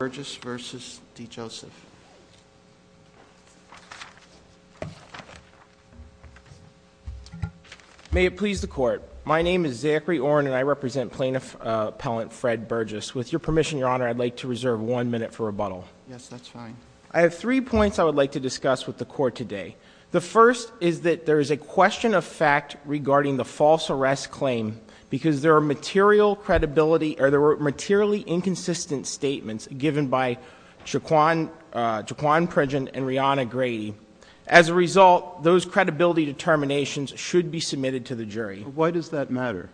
May it please the court. My name is Zachary Oren and I represent Plaintiff Appellant Fred Burgess. With your permission, your honor, I'd like to reserve one minute for rebuttal. Yes, that's fine. I have three points I would like to discuss with the court today. The first is that there is a question of fact regarding the false arrest claim because there are material credibility or there were materially inconsistent statements given by Jaquan Pridgen and Riana Grady. As a result, those credibility determinations should be submitted to the jury. Why does that matter?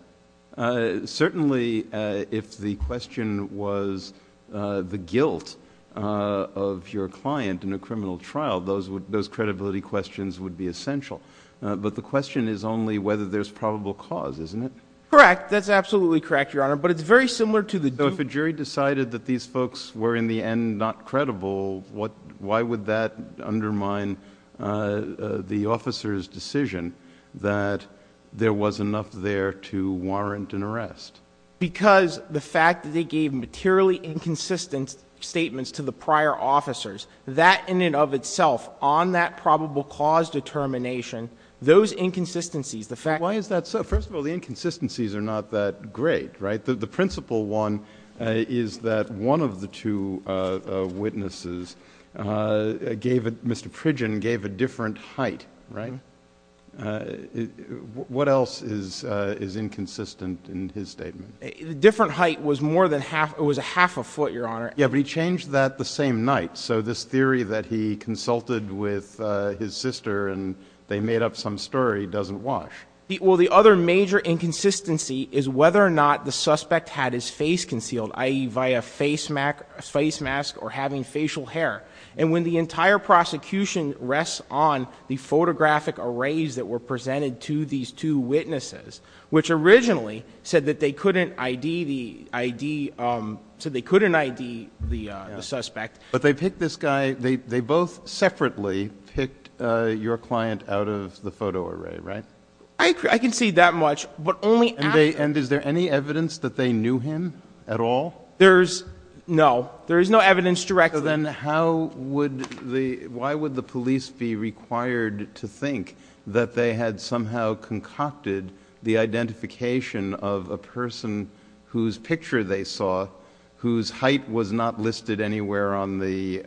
Certainly, if the question was the guilt of your client in a criminal trial, those credibility questions would be essential. But the question is only whether there's probable cause, isn't it? Correct. That's absolutely correct, your honor, but it's very similar to the… So if a jury decided that these folks were in the end not credible, why would that undermine the officer's decision that there was enough there to warrant an arrest? Because the fact that they gave materially inconsistent statements to the prior officers, that in and of itself on that probable cause determination, those inconsistencies, the fact… Why is that so? First of all, the inconsistencies are not that great, right? In fact, the principal one is that one of the two witnesses, Mr. Pridgen, gave a different height, right? What else is inconsistent in his statement? The different height was more than half. It was a half a foot, your honor. Yeah, but he changed that the same night. So this theory that he consulted with his sister and they made up some story doesn't wash. Well, the other major inconsistency is whether or not the suspect had his face concealed, i.e., via face mask or having facial hair. And when the entire prosecution rests on the photographic arrays that were presented to these two witnesses, which originally said that they couldn't ID the suspect… But they picked this guy – they both separately picked your client out of the photo array, right? I can see that much, but only after… And is there any evidence that they knew him at all? There's – no. There is no evidence directly. Then how would the – why would the police be required to think that they had somehow concocted the identification of a person whose picture they saw, whose height was not listed anywhere on the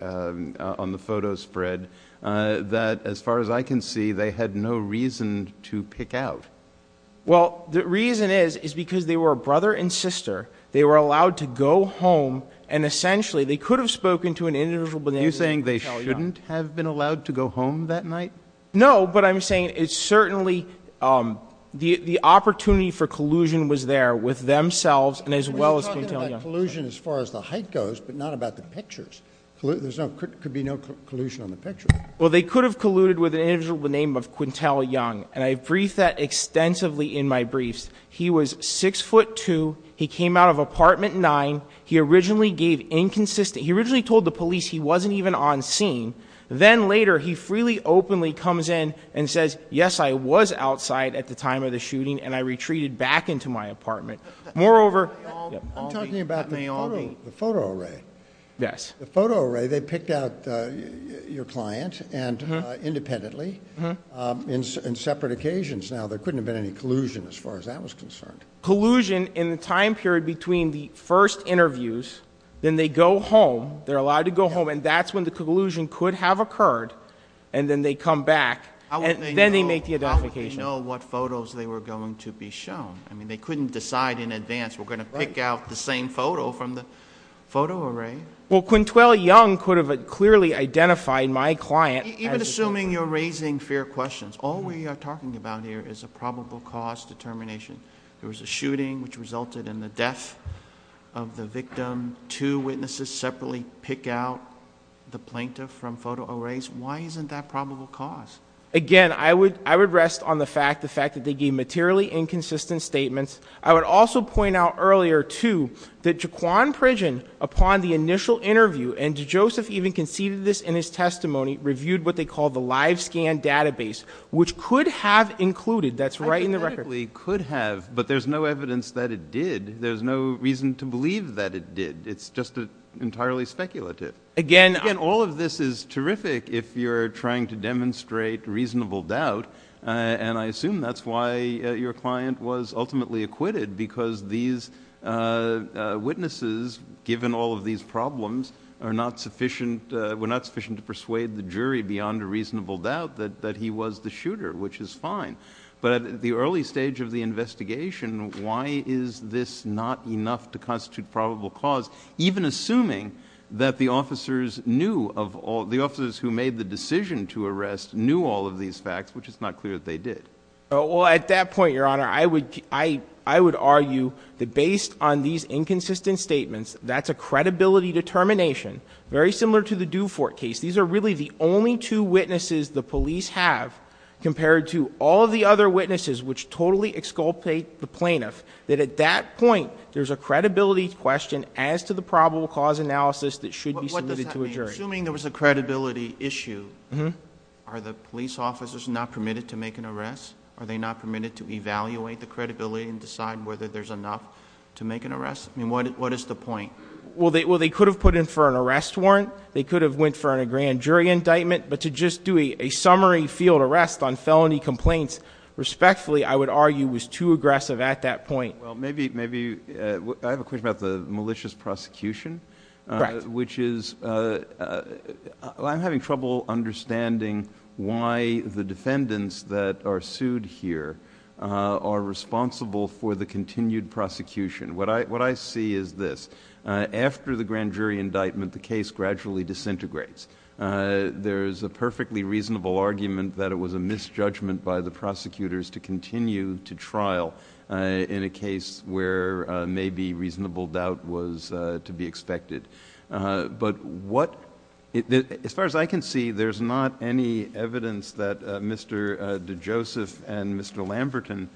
photo spread, that, as far as I can see, they had no reason to pick out? Well, the reason is, is because they were a brother and sister. They were allowed to go home, and essentially they could have spoken to an individual… Are you saying they shouldn't have been allowed to go home that night? No, but I'm saying it's certainly – the opportunity for collusion was there with themselves and as well as… We're talking about collusion as far as the height goes, but not about the pictures. There could be no collusion on the pictures. Well, they could have colluded with an individual by the name of Quintel Young, and I briefed that extensively in my briefs. He was 6'2". He came out of Apartment 9. He originally gave inconsistent – he originally told the police he wasn't even on scene. Then later, he freely, openly comes in and says, yes, I was outside at the time of the shooting, and I retreated back into my apartment. Moreover… I'm talking about the photo array. Yes. The photo array, they picked out your client independently in separate occasions. Now, there couldn't have been any collusion as far as that was concerned. Collusion in the time period between the first interviews, then they go home. They're allowed to go home, and that's when the collusion could have occurred, and then they come back, and then they make the identification. How would they know what photos they were going to be shown? I mean, they couldn't decide in advance, we're going to pick out the same photo from the photo array. Well, Quintel Young could have clearly identified my client. Even assuming you're raising fair questions, all we are talking about here is a probable cause determination. There was a shooting which resulted in the death of the victim. Two witnesses separately pick out the plaintiff from photo arrays. Why isn't that probable cause? Again, I would rest on the fact that they gave materially inconsistent statements. I would also point out earlier, too, that Jaquan Pridgen, upon the initial interview, and Joseph even conceded this in his testimony, reviewed what they call the live scan database, which could have included, that's right in the record. It could have, but there's no evidence that it did. There's no reason to believe that it did. It's just entirely speculative. Again, all of this is terrific if you're trying to demonstrate reasonable doubt, and I assume that's why your client was ultimately acquitted, because these witnesses, given all of these problems, were not sufficient to persuade the jury beyond a reasonable doubt that he was the shooter, which is fine. But at the early stage of the investigation, why is this not enough to constitute probable cause, even assuming that the officers who made the decision to arrest knew all of these facts, which it's not clear that they did? Well, at that point, Your Honor, I would argue that based on these inconsistent statements, that's a credibility determination very similar to the Dufort case. These are really the only two witnesses the police have compared to all of the other witnesses, which totally exculpate the plaintiff, that at that point, there's a credibility question as to the probable cause analysis that should be submitted to a jury. What does that mean, assuming there was a credibility issue? Are the police officers not permitted to make an arrest? Are they not permitted to evaluate the credibility and decide whether there's enough to make an arrest? I mean, what is the point? Well, they could have put in for an arrest warrant. They could have went for a grand jury indictment. But to just do a summary field arrest on felony complaints, respectfully, I would argue was too aggressive at that point. Well, maybe I have a question about the malicious prosecution. Correct. Which is I'm having trouble understanding why the defendants that are sued here are responsible for the continued prosecution. What I see is this. After the grand jury indictment, the case gradually disintegrates. There is a perfectly reasonable argument that it was a misjudgment by the prosecutors to continue to trial in a case where maybe reasonable doubt was to be expected. But as far as I can see, there's not any evidence that Mr. DeJoseph and Mr. Lamberton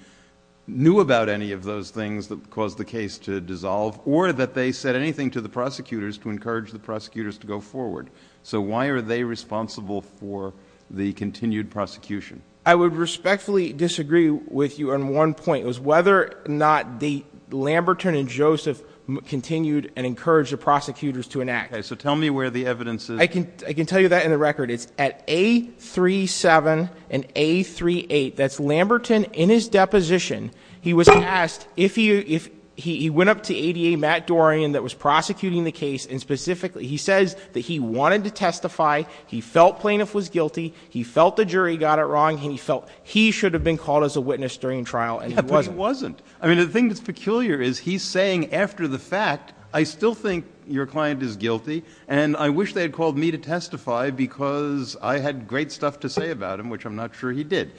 knew about any of those things that caused the case to dissolve or that they said anything to the prosecutors to encourage the prosecutors to go forward. So why are they responsible for the continued prosecution? I would respectfully disagree with you on one point. It was whether or not Lamberton and Joseph continued and encouraged the prosecutors to enact. So tell me where the evidence is. I can tell you that in the record. It's at A37 and A38. That's Lamberton in his deposition. He was asked if he went up to ADA Matt Dorian that was prosecuting the case, and specifically he says that he wanted to testify. He felt plaintiff was guilty. He felt the jury got it wrong. He felt he should have been called as a witness during trial, and he wasn't. But he wasn't. I mean, the thing that's peculiar is he's saying after the fact, I still think your client is guilty, and I wish they had called me to testify because I had great stuff to say about him, which I'm not sure he did.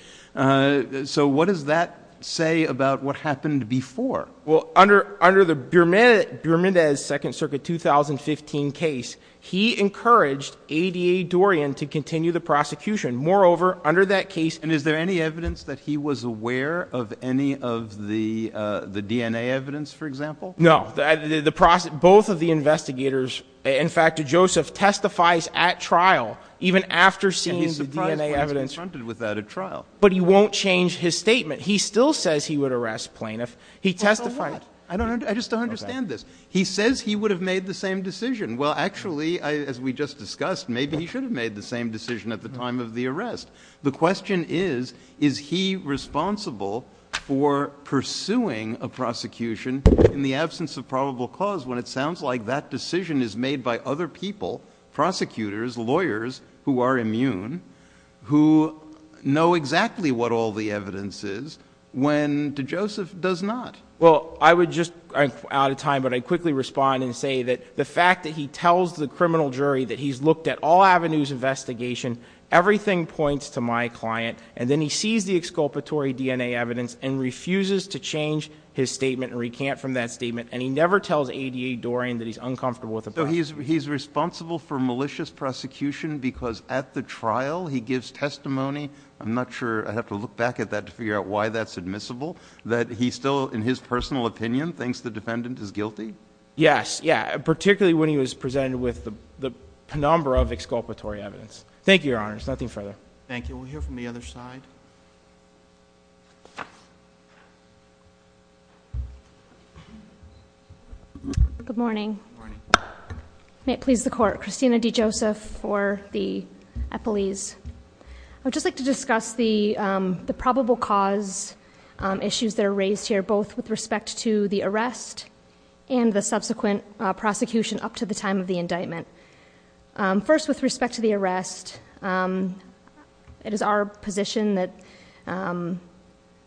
So what does that say about what happened before? Well, under the Bermudez Second Circuit 2015 case, he encouraged ADA Dorian to continue the prosecution. Moreover, under that case – And is there any evidence that he was aware of any of the DNA evidence, for example? No. Both of the investigators, in fact Joseph, testifies at trial even after seeing the DNA evidence. But he won't change his statement. He still says he would arrest plaintiff. He testified. I just don't understand this. He says he would have made the same decision. Well, actually, as we just discussed, maybe he should have made the same decision at the time of the arrest. The question is, is he responsible for pursuing a prosecution in the absence of probable cause when it sounds like that decision is made by other people, prosecutors, lawyers who are immune, who know exactly what all the evidence is, when, to Joseph, does not? Well, I would just – I'm out of time, but I'd quickly respond and say that the fact that he tells the criminal jury that he's looked at all avenues of investigation, everything points to my client, and then he sees the exculpatory DNA evidence and refuses to change his statement and recant from that statement, and he never tells ADA Dorian that he's uncomfortable with the prosecution. So he's responsible for malicious prosecution because at the trial he gives testimony. I'm not sure – I'd have to look back at that to figure out why that's admissible, that he still, in his personal opinion, thinks the defendant is guilty? Yes, yeah, particularly when he was presented with the penumbra of exculpatory evidence. Thank you, Your Honor. There's nothing further. Thank you. We'll hear from the other side. Good morning. Good morning. May it please the Court. Christina D. Joseph for the Eppleese. I would just like to discuss the probable cause issues that are raised here, both with respect to the arrest and the subsequent prosecution up to the time of the indictment. First, with respect to the arrest, it is our position that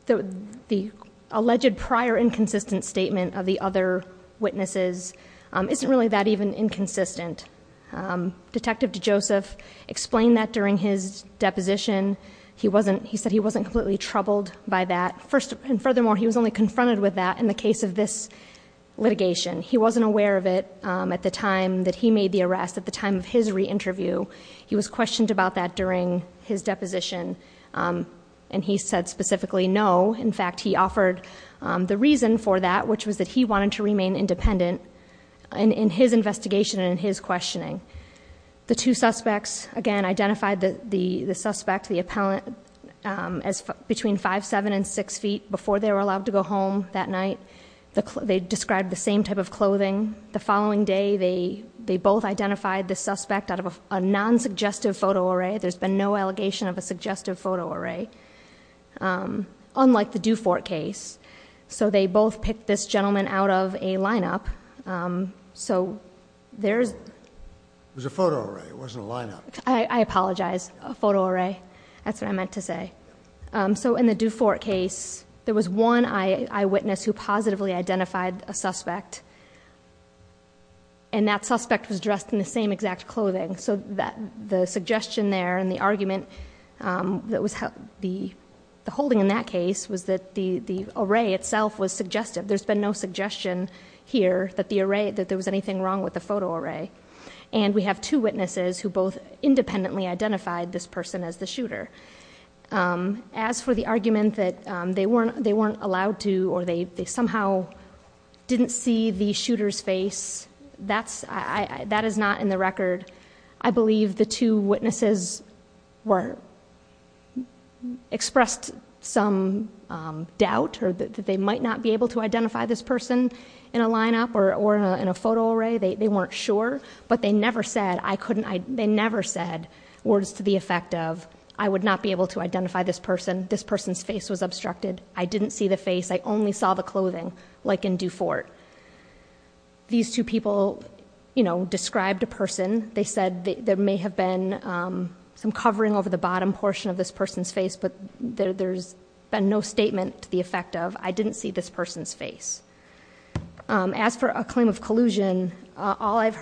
the alleged prior inconsistent statement of the other witnesses isn't really that even inconsistent. Detective DeJoseph explained that during his deposition. He said he wasn't completely troubled by that. And furthermore, he was only confronted with that in the case of this litigation. He wasn't aware of it at the time that he made the arrest. At the time of his re-interview, he was questioned about that during his deposition, and he said specifically no. In fact, he offered the reason for that, which was that he wanted to remain independent in his investigation and in his questioning. The two suspects, again, identified the suspect, the appellant, as between 5'7 and 6'0 before they were allowed to go home that night. They described the same type of clothing. The following day, they both identified the suspect out of a non-suggestive photo array. There's been no allegation of a suggestive photo array, unlike the Dufort case. So they both picked this gentleman out of a lineup. So there's... It was a photo array. It wasn't a lineup. I apologize. A photo array. That's what I meant to say. So in the Dufort case, there was one eyewitness who positively identified a suspect. And that suspect was dressed in the same exact clothing. So the suggestion there and the argument that was held... The holding in that case was that the array itself was suggestive. There's been no suggestion here that there was anything wrong with the photo array. And we have two witnesses who both independently identified this person as the shooter. As for the argument that they weren't allowed to or they somehow didn't see the shooter's face, that is not in the record. I believe the two witnesses expressed some doubt that they might not be able to identify this person in a lineup or in a photo array. They weren't sure, but they never said words to the effect of, I would not be able to identify this person. This person's face was obstructed. I didn't see the face. I only saw the clothing, like in Dufort. These two people described a person. They said there may have been some covering over the bottom portion of this person's face, but there's been no statement to the effect of, I didn't see this person's face. As for a claim of collusion, all I've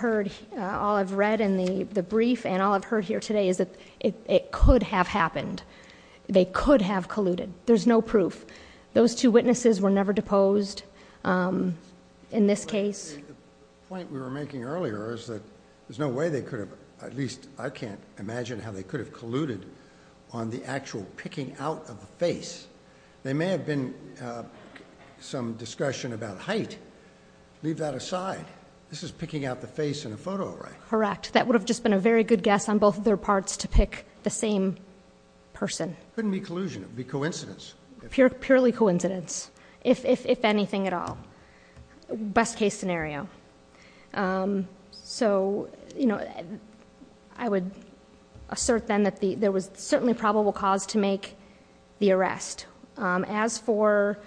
read in the brief and all I've heard here today is that it could have happened. They could have colluded. There's no proof. Those two witnesses were never deposed in this case. The point we were making earlier is that there's no way they could have, at least I can't imagine how they could have colluded on the actual picking out of the face. There may have been some discussion about height. Leave that aside. This is picking out the face in a photo array. Correct. That would have just been a very good guess on both their parts to pick the same person. It couldn't be collusion. It would be coincidence. Purely coincidence, if anything at all. Best case scenario. So I would assert then that there was certainly probable cause to make the arrest. As for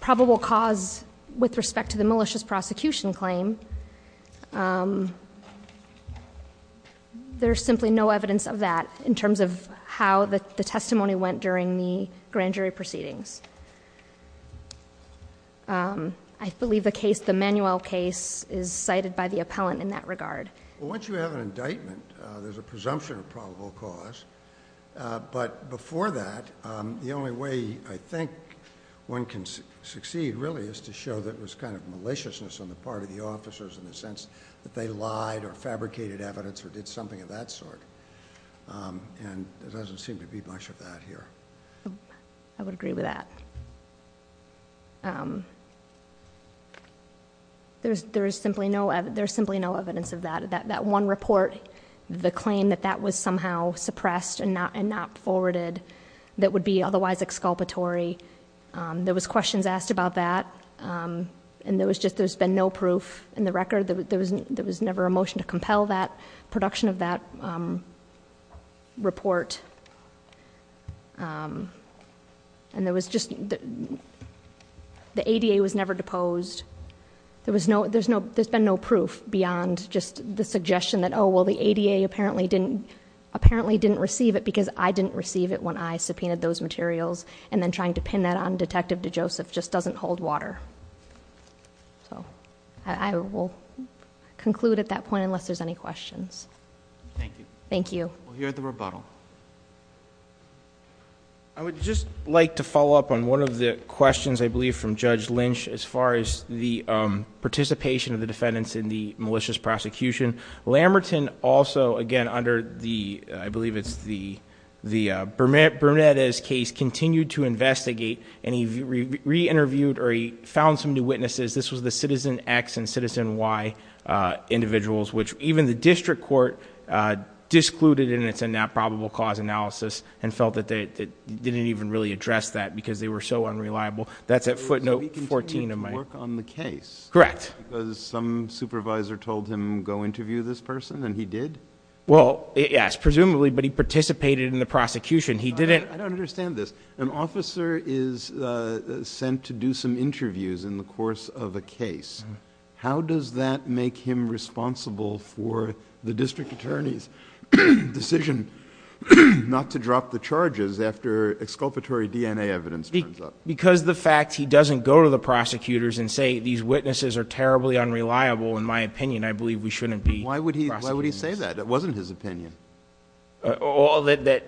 probable cause with respect to the malicious prosecution claim, there's simply no evidence of that in terms of how the testimony went during the grand jury proceedings. I believe the case, the Manuel case, is cited by the appellant in that regard. Well, once you have an indictment, there's a presumption of probable cause. But before that, the only way I think one can succeed, really, is to show that it was kind of maliciousness on the part of the officers in the sense that they lied or fabricated evidence or did something of that sort. And there doesn't seem to be much of that here. I would agree with that. There's simply no evidence of that. That one report, the claim that that was somehow suppressed and not forwarded that would be otherwise exculpatory, there was questions asked about that, and there's been no proof in the record. There was never a motion to compel the production of that report. And there was just, the ADA was never deposed. There's been no proof beyond just the suggestion that, oh, well, the ADA apparently didn't receive it because I didn't receive it when I subpoenaed those materials, and then trying to pin that on Detective DeJoseph just doesn't hold water. So I will conclude at that point unless there's any questions. Thank you. Thank you. We'll hear at the rebuttal. I would just like to follow up on one of the questions, I believe, from Judge Lynch as far as the participation of the defendants in the malicious prosecution. Lamberton also, again, under the, I believe it's the Bermudez case, continued to investigate, and he re-interviewed or he found some new witnesses. This was the Citizen X and Citizen Y individuals, which even the district court discluded in its probable cause analysis and felt that they didn't even really address that because they were so unreliable. That's at footnote 14 of my. So he continued to work on the case? Correct. Because some supervisor told him, go interview this person, and he did? Well, yes, presumably, but he participated in the prosecution. He didn't. I don't understand this. An officer is sent to do some interviews in the course of a case. How does that make him responsible for the district attorney's decision not to drop the charges after exculpatory DNA evidence turns up? Because the fact he doesn't go to the prosecutors and say these witnesses are terribly unreliable, in my opinion, I believe we shouldn't be prosecuting them. Why would he say that? It wasn't his opinion. That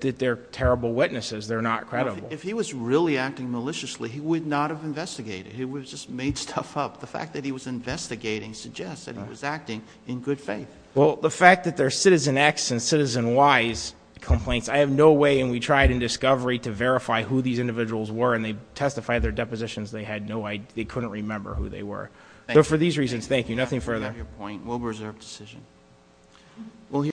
they're terrible witnesses. They're not credible. If he was really acting maliciously, he would not have investigated. He would have just made stuff up. The fact that he was investigating suggests that he was acting in good faith. Well, the fact that they're Citizen X and Citizen Y's complaints, I have no way, and we tried in discovery, to verify who these individuals were, and they testified their depositions. They had no idea. They couldn't remember who they were. So for these reasons, thank you. Nothing further. Thank you for your point. We'll reserve decision.